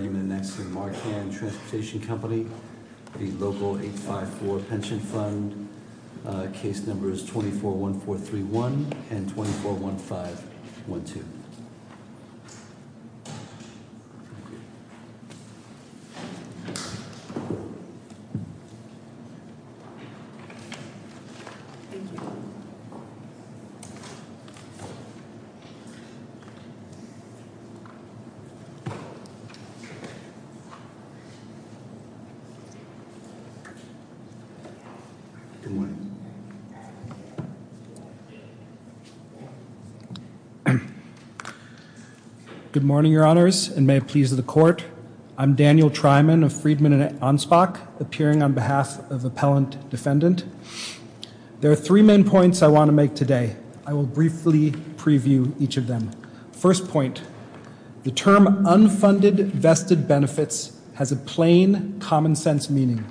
241431 and 241512. Good morning, Your Honors, and may it please the Court. I'm Daniel Tryman of Freedman & Anspach, appearing on behalf of Appellant Defendant. There are three main points I want to make today. I will briefly preview each of them. First point, the term unfunded vested benefits has a plain, common-sense meaning.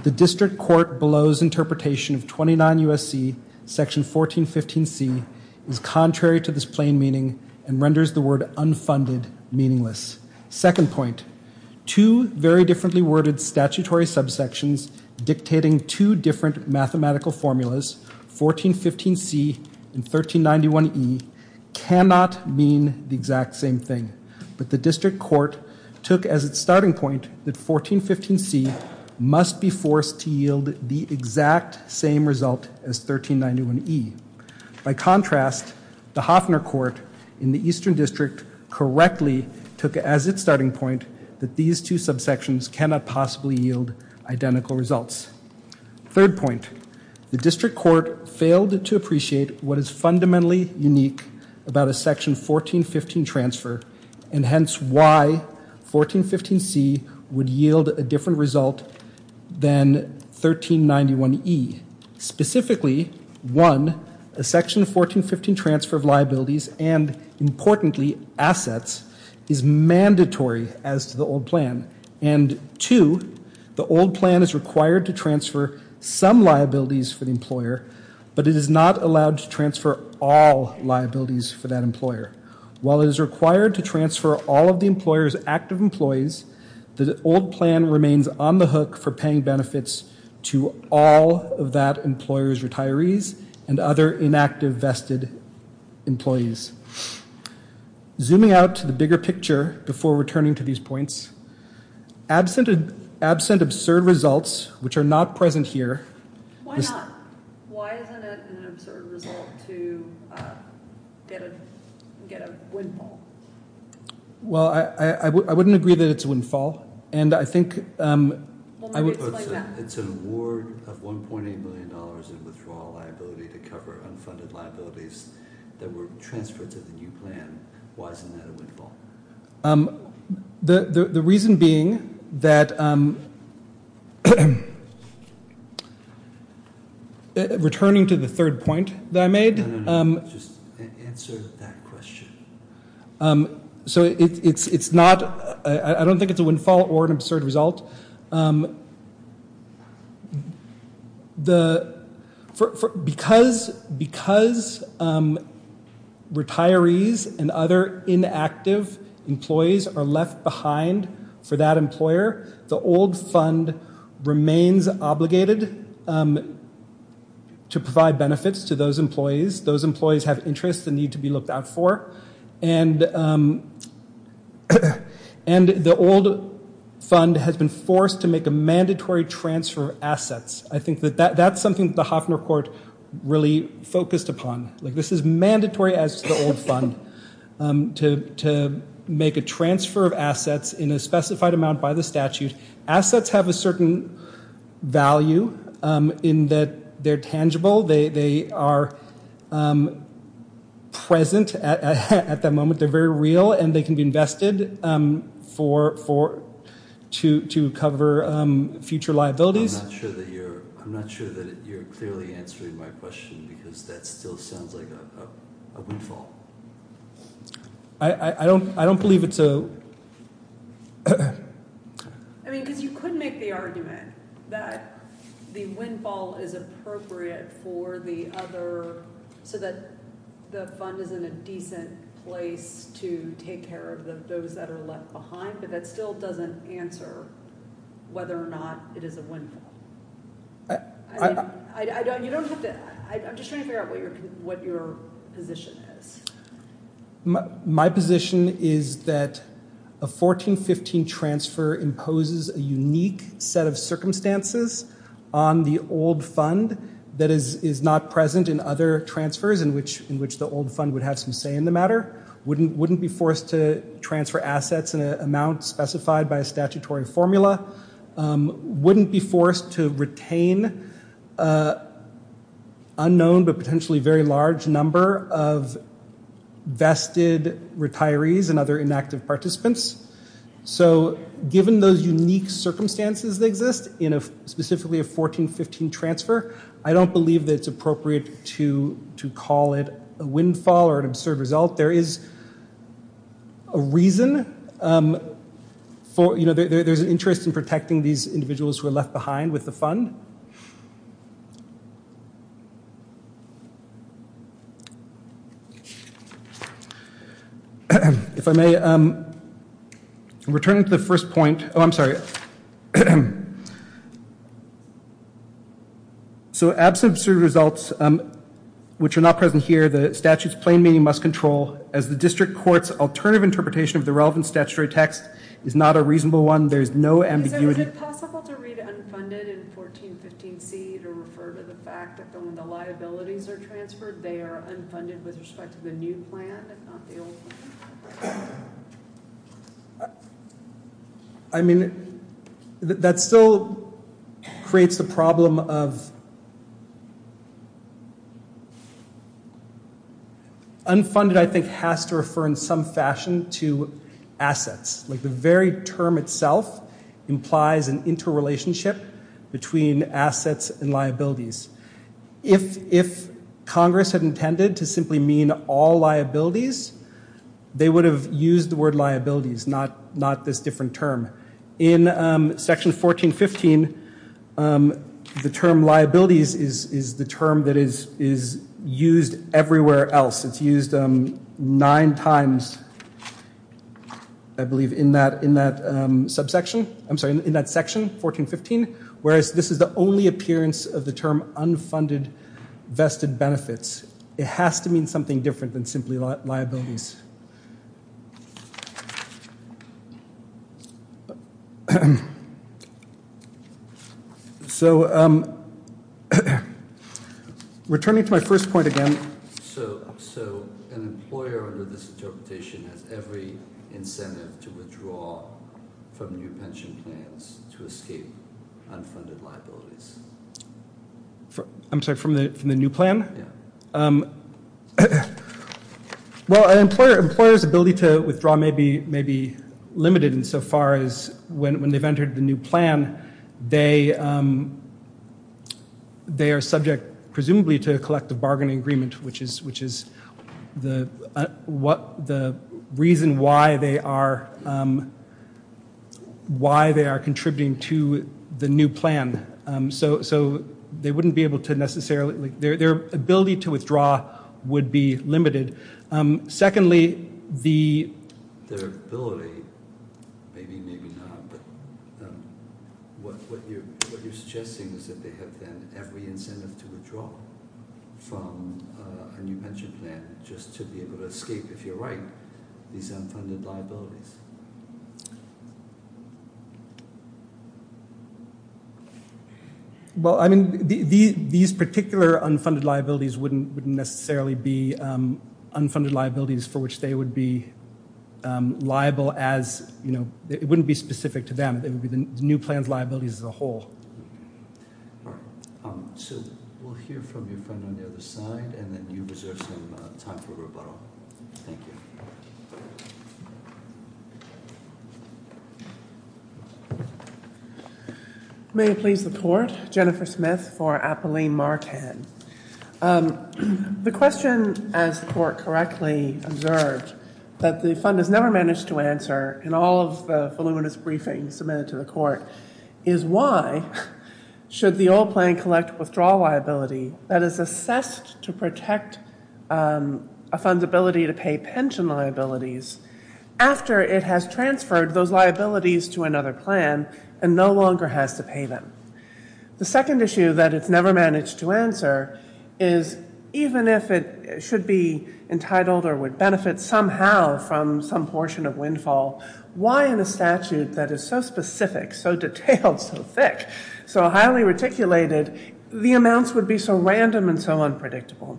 The District Court below's interpretation of 29 U.S.C. section 1415C is contrary to this plain meaning and renders the word unfunded meaningless. Second point, two very differently worded statutory subsections dictating two different mathematical formulas, 1415C and 1391E, cannot mean the exact same thing, but the District Court took as its starting point that 1415C must be forced to yield the exact same result as 1391E. By contrast, the Hofner Court in the Eastern District correctly took as its starting point that these two subsections cannot possibly yield identical results. Third point, the District Court failed to appreciate what is fundamentally unique about a section 1415 transfer, and hence why 1415C would yield a different result than 1391E. Specifically, one, a section 1415 transfer of liabilities and, importantly, assets, is mandatory as to the old plan. And two, the old plan is required to transfer some liabilities for the employer, but it is not allowed to transfer all liabilities for that employer. While it is required to transfer all of the employer's active employees, the old plan remains on the hook for paying benefits to all of that employer's retirees and other inactive vested employees. Zooming out to the bigger picture before returning to these points, absent absurd results, which are not present here... Why isn't it an absurd result to get a windfall? Well, I wouldn't agree that it's a windfall, and I think... It's an award of $1.8 million in withdrawal liability to cover unfunded liabilities that were transferred to the new plan. Why isn't that a windfall? The reason being that... Returning to the third point that I made... No, no, no. Just answer that question. I don't think it's a windfall or an absurd result. The... Because retirees and other inactive employees are left behind for that employer, the old fund remains obligated to provide benefits to those employees. Those employees have interests that need to be looked out for. And the old fund has been forced to make a mandatory transfer of assets. I think that that's something that the Hofner Court really focused upon. Like, this is mandatory as to the old fund, to make a transfer of assets in a specified amount by the statute. Assets have a certain value in that they're tangible. They are present at that moment. They're very real, and they can be invested to cover future liabilities. I'm not sure that you're clearly answering my question, because that still sounds like a windfall. I don't believe it's a... I mean, because you could make the argument that the windfall is appropriate for the other, so that the fund is in a decent place to take care of those that are left behind, but that still doesn't answer whether or not it is a windfall. I'm just trying to figure out what your position is. My position is that a 14-15 transfer imposes a unique set of circumstances on the old fund that is not present in other transfers in which the old fund would have some say in the matter, wouldn't be forced to transfer assets in an amount specified by a statutory formula, wouldn't be forced to retain an unknown but potentially very large number of vested retirees and other inactive participants. So given those unique circumstances that exist in specifically a 14-15 transfer, I don't believe that it's appropriate to call it a windfall or an absurd result. There is a reason for... There's an interest in protecting these individuals who are left behind with the fund. If I may return to the first point... Oh, I'm sorry. So absent absurd results which are not present here, the statute's plain meaning must control as the district court's alternative interpretation of the relevant statutory text is not a reasonable one. There is no ambiguity... Is it possible to read unfunded in 14-15C to refer to the fact that when the liabilities are transferred, they are unfunded with respect to the new plan, if not the old one? I mean, that still creates the problem of... Unfunded, I think, has to refer in some fashion to assets. Like the very term itself implies an interrelationship between assets and liabilities. If Congress had intended to simply mean all liabilities, they would have used the word liabilities, not this different term. In section 14-15, the term liabilities is the term that is used everywhere else. It's used nine times, I believe, in that subsection. I'm sorry, in that section, 14-15, whereas this is the only appearance of the term unfunded vested benefits. It has to mean something different than simply liabilities. So, returning to my first point again... So, an employer under this interpretation has every incentive to withdraw from new pension plans to escape unfunded liabilities? I'm sorry, from the new plan? Well, an employer's ability to withdraw may be limited insofar as when they've entered the new plan they are subject, presumably, to a collective bargaining agreement, which is the reason why they are contributing to the new plan. So, their ability to withdraw would be limited. Secondly, their ability, maybe, maybe not, but what you're suggesting is that they have, then, every incentive to withdraw from a new pension plan just to be able to escape, if you're right, these unfunded liabilities? Well, I mean, these particular unfunded liabilities wouldn't necessarily be unfunded liabilities for which they would be liable as, you know, it wouldn't be specific to them. It would be the new plan's liabilities as a whole. So, we'll hear from your friend on the other side and then you reserve some time for rebuttal. Thank you. May it please the Court. Jennifer Smith for Apolline Marcan. The question, as the Court correctly observed, that the fund has never managed to answer in all of the voluminous briefings submitted to the Court, is why should the old plan collect withdrawal liability that is assessed to protect a fund's ability to pay pension liabilities after it has transferred those liabilities to another plan and no longer has to pay them? The second issue that it's never managed to answer is even if it should be entitled or would benefit somehow from some portion of windfall, why in a statute that is so specific, so detailed, so thick, so highly reticulated, the amounts would be so random and so unpredictable?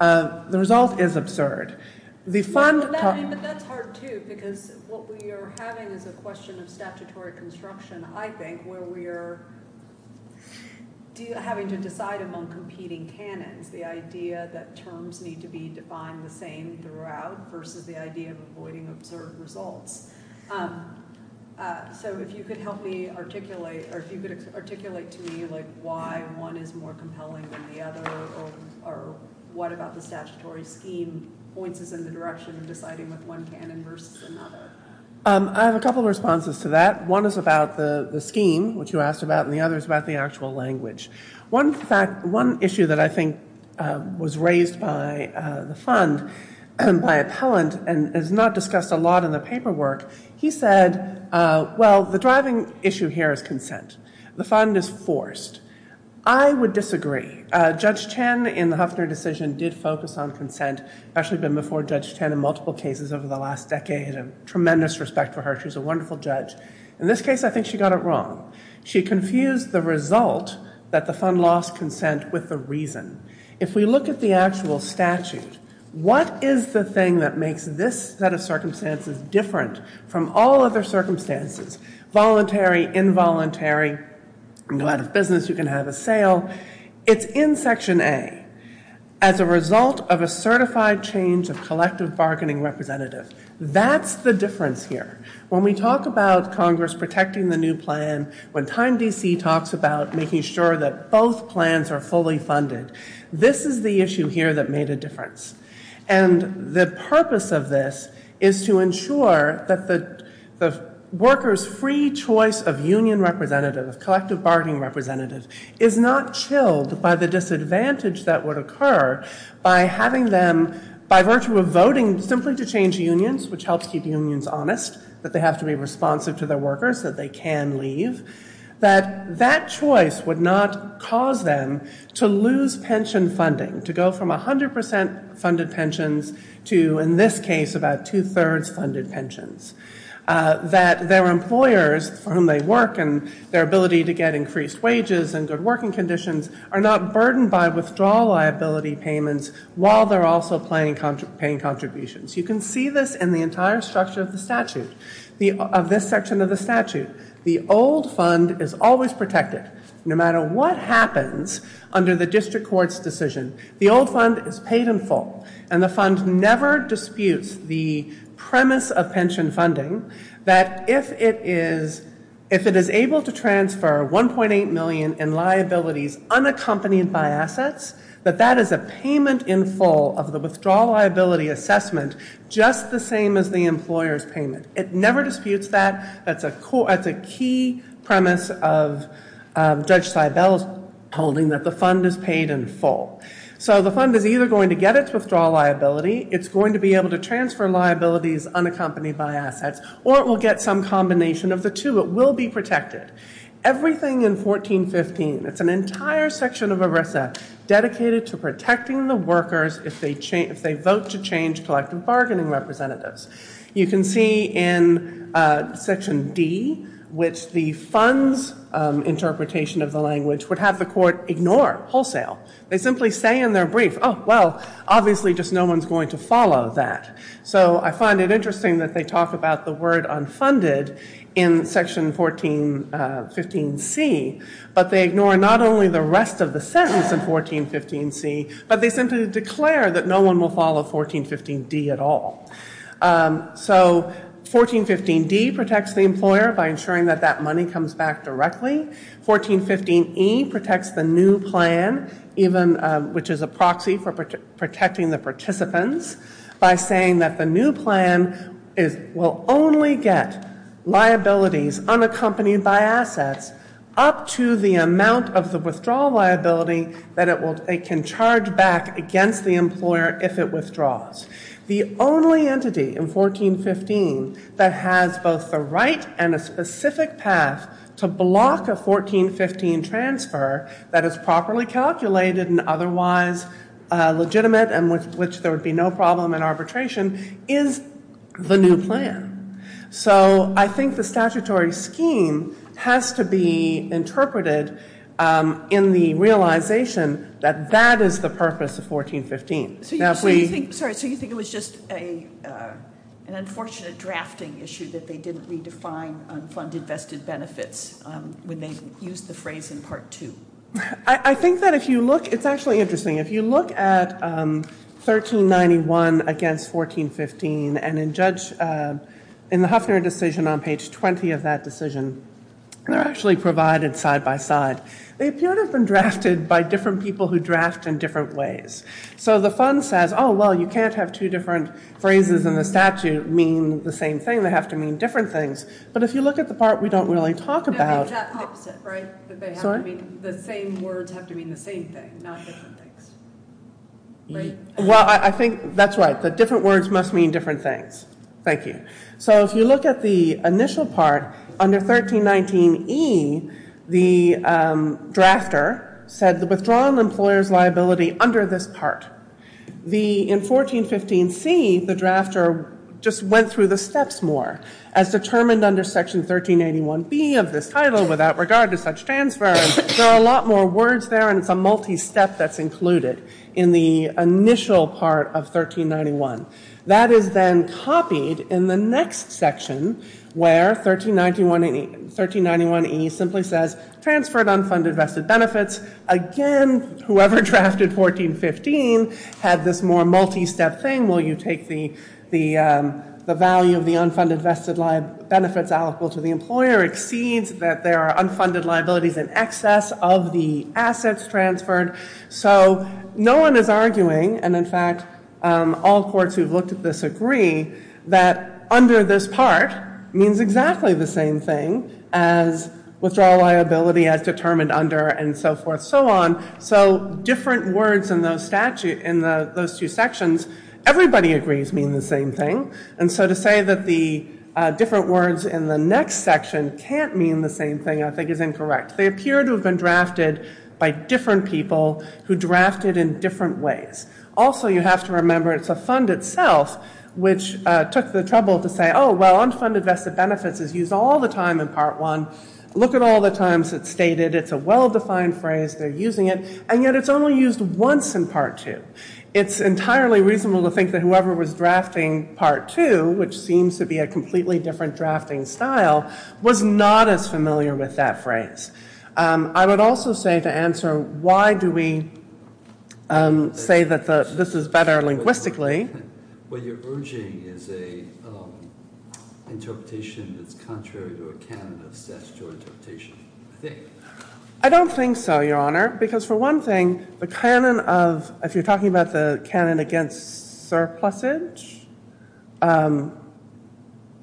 The result is absurd. The fund... But that's hard, too, because what we are having is a question of statutory construction, I think, where we are having to decide among competing canons the idea that terms need to be defined the same throughout versus the idea of avoiding absurd results. So if you could help me articulate, or if you could articulate to me why one is more compelling than the other or what about the statutory scheme points us in the direction of deciding with one canon versus another. I have a couple of responses to that. One is about the scheme, which you asked about, and the other is about the actual language. One issue that I think was raised by the fund and by appellant and is not discussed a lot in the paperwork, he said, well, the driving issue here is consent. The fund is forced. I would disagree. Judge Chen in the Huffner decision did focus on consent. I've actually been before Judge Chen in multiple cases over the last decade. I have tremendous respect for her. She's a wonderful judge. In this case, I think she got it wrong. She confused the result that the fund lost consent with the reason. If we look at the actual statute, what is the thing that makes this set of circumstances different from all other circumstances, voluntary, involuntary, go out of business, you can have a sale? It's in Section A. As a result of a certified change of collective bargaining representative. That's the difference here. When we talk about Congress protecting the new plan, when Time DC talks about making sure that both plans are fully funded, this is the issue here that made a difference. And the purpose of this is to ensure that the worker's free choice of union representative, of collective bargaining representative, is not chilled by the disadvantage that would occur by having them, by virtue of voting simply to change unions, which helps keep unions honest, that they have to be responsive to their workers, that they can leave, that that choice would not cause them to lose pension funding, to go from 100% funded pensions to, in this case, about two-thirds funded pensions. That their conditions are not burdened by withdrawal liability payments while they're also paying contributions. You can see this in the entire structure of the statute, of this section of the statute. The old fund is always protected, no matter what happens under the District Court's decision. The old fund is paid in full, and the fund never disputes the premise of pension funding, that if it is able to transfer $1.8 million in liabilities unaccompanied by assets, that that is a payment in full of the withdrawal liability assessment, just the same as the employer's payment. It never disputes that. That's a key premise of Judge Seibel's holding, that the fund is paid in full. So the fund is either going to get its withdrawal liability, it's going to be able to transfer liabilities unaccompanied by assets, or it will get some combination of the two. It will be protected. Everything in 1415, it's an entire section of ERISA dedicated to protecting the workers if they vote to change collective bargaining representatives. You can see in Section D, which the fund's interpretation of the language would have the court ignore wholesale. They simply say in their brief, oh, well, obviously just no one's going to follow that. So I find it interesting that they talk about the word unfunded in Section 1415C, but they ignore not only the rest of the sentence in 1415C, but they simply declare that no one will follow 1415D at all. So 1415D protects the employer by saying that the new plan, which is a proxy for protecting the participants, by saying that the new plan will only get liabilities unaccompanied by assets up to the amount of the withdrawal liability that it can charge back against the employer if it withdraws. The only entity in 1415 that has both the right and a specific path to block a 1415 transfer that is properly calculated and otherwise legitimate and with which there would be no problem in arbitration is the new plan. So I think the statutory scheme has to be interpreted in the realization that that is the purpose of 1415. So you think it was just an unfortunate drafting issue that they didn't redefine unfunded vested benefits when they used the phrase in Part 2? I think that if you look, it's actually interesting, if you look at 1391 against 1415 and in the Huffner decision on page 20 of that decision, they're actually provided side by side. They appear to have been drafted by different people who draft in different ways. So the fund says, oh, well, you can't have two different phrases in the statute mean the same thing. They have to mean different things. But if you look at the part we don't really talk about, the same words have to mean the same thing, not different things. Well, I think that's right. The different words must mean different things. Thank you. So if you look at the initial part, under 1319E, the drafter said, withdraw an employer's liability under this part. In 1415C, the drafter just went through the steps more, as determined under Section 1381B of this title, without regard to such transfer. There are a lot more words there, and it's a multi-step that's included in the initial part of 1391. That is then copied in the next section, where 1391E simply says, transferred unfunded vested benefits. Again, whoever drafted 1415 had this more multi-step thing. Well, you take the value of the unfunded vested benefits allocable to the employer exceeds that there are unfunded liabilities in excess of the assets transferred. So no one is arguing, and in fact all courts who've looked at this agree, that under this part means exactly the same thing as withdraw liability as determined under and so forth and so on. So different words in those two sections, everybody agrees mean the same thing. And so to say that the different words in the next section can't mean the same thing, I think is incorrect. They appear to have been drafted by different people who drafted in different ways. Also, you have to remember it's a fund itself, which took the trouble to say, oh, well, unfunded vested benefits is used all the time in Part 1. Look at all the times it's stated. It's a well-defined phrase. They're using it. And yet it's only used once in Part 2. It's a completely different drafting style. I was not as familiar with that phrase. I would also say to answer why do we say that this is better linguistically. What you're urging is a interpretation that's contrary to a canon of statutory interpretation, I think. I don't think so, Your Honor, because for one thing, the canon of, if you're talking about the canon against surplusage. I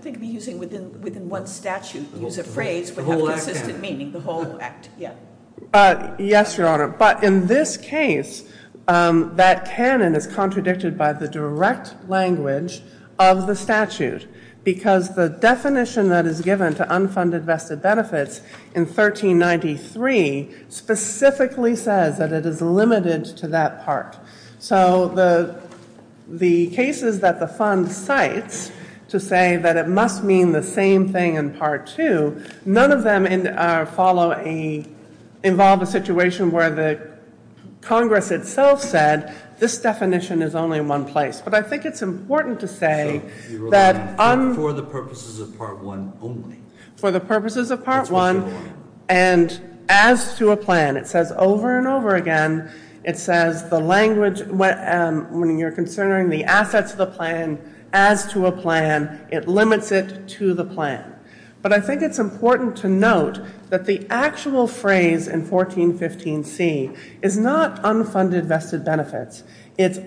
think using within one statute, use a phrase with a consistent meaning, the whole act. Yes, Your Honor. But in this case, that canon is contradicted by the direct language of the statute, because the definition that is given to unfunded vested benefits in 1393 specifically says that it is limited to that part. So the cases that the Fund cites to say that it must mean the same thing in Part 2, none of them involve a situation where the Congress itself said this definition is only in one place. But I think it's important to say that... For the purposes of Part 1 only. And as to a plan, it says over and over again, it says the language when you're considering the assets of the plan, as to a plan, it limits it to the plan. But I think it's important to note that the actual phrase in 1415C is not unfunded vested benefits. It's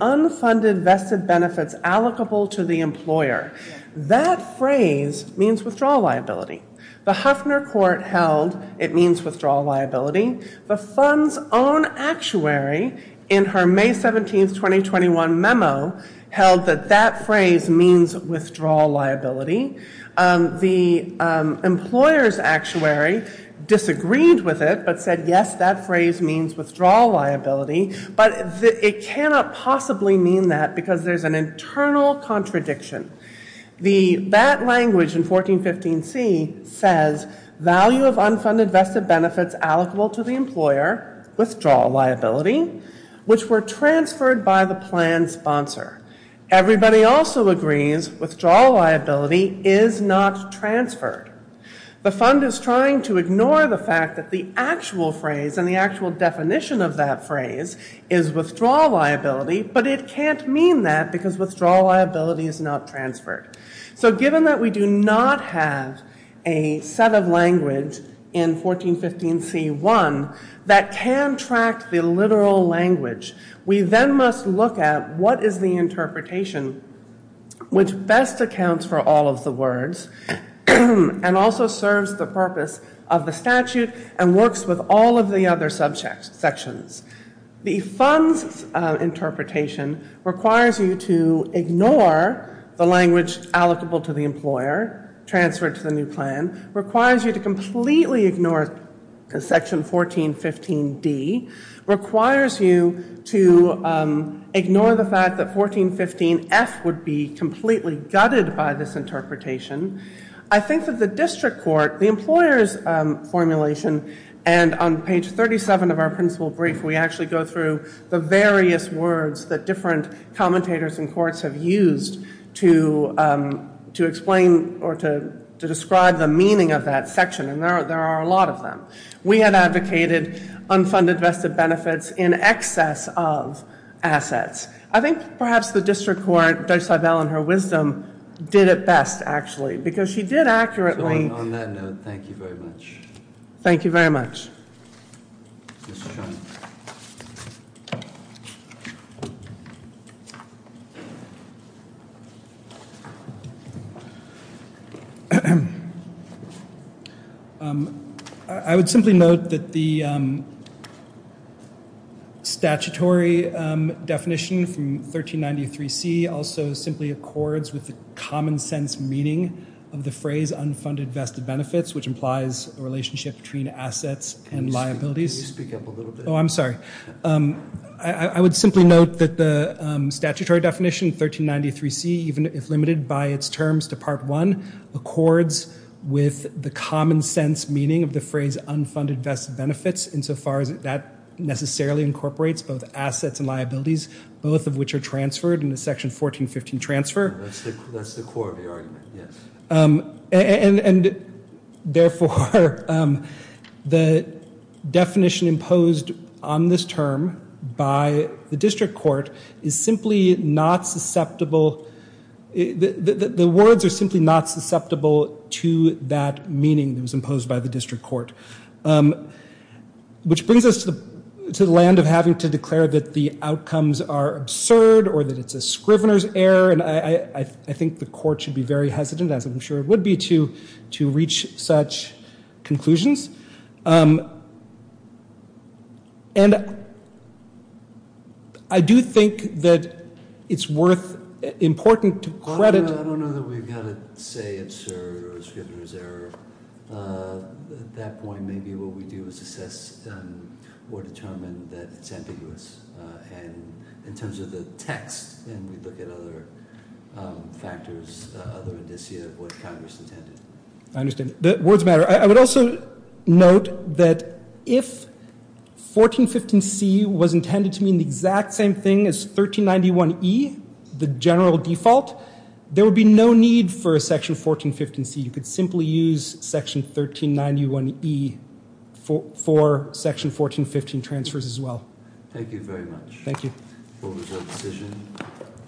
means withdrawal liability. The Huffner Court held it means withdrawal liability. The Fund's own actuary in her May 17, 2021 memo held that that phrase means withdrawal liability. The employer's actuary disagreed with it, but said yes, that phrase means withdrawal liability. But it cannot possibly mean that because there's an internal contradiction. The BAT language in 1415C says value of unfunded vested benefits allocable to the employer, withdrawal liability, which were transferred by the plan sponsor. Everybody also agrees withdrawal liability is not transferred. The Fund is trying to ignore the fact that the actual phrase and the actual definition of that phrase is withdrawal liability, but it can't mean that because withdrawal liability is not transferred. So given that we do not have a set of language in 1415C1 that can track the literal language, we then must look at what is the interpretation which best accounts for all of the words and also serves the purpose of the statute and works with all of the other subsections. The Fund's interpretation requires you to ignore the language allocable to the employer transferred to the new plan, requires you to completely ignore section 1415D, requires you to ignore the fact that 1415F would be completely gutted by this interpretation. I think that the district court, the employer's formulation, and on page 37 of our principal brief, we actually go through the various words that different commentators in courts have used to explain or to describe the meaning of that section, and there are a lot of them. We have advocated unfunded vested benefits in excess of assets. I think perhaps the district court, Judge Seibel in her wisdom, did it best actually, because she did accurately... So on that note, thank you very much. Thank you very much. I would simply note that the statutory definition from 1393C also simply accords with the common sense meaning of the phrase unfunded vested benefits, which implies a relationship between assets and liabilities. Can you speak up a little bit? Oh, I'm sorry. I would simply note that the statutory definition, 1393C, even if limited by its terms to part one, accords with the common sense meaning of the phrase unfunded vested benefits insofar as that necessarily incorporates both assets and liabilities, both of which are transferred in the section 1415 transfer. That's the core of the argument, yes. And therefore the definition imposed on this term by the district court is simply not susceptible... The words are simply not susceptible to that meaning that was imposed by the district court, which brings us to the land of having to declare that the outcomes are absurd or that it's a Scrivener's error. And I think the court should be very hesitant, as I'm sure it would be, to reach such conclusions. And I do think that it's worth... Important to credit... I don't know that we've got to say absurd or a Scrivener's error. At that point, maybe what we do is assess or determine that it's ambiguous in terms of the text and we look at other factors, other indicia of what Congress intended. I understand. Words matter. I would also note that if 1415C was intended to mean the exact same thing as 1391E, the general default, there would be no need for a section 1415C. You could simply use section 1391E for section 1415 transfers as well. Thank you very much. Thank you.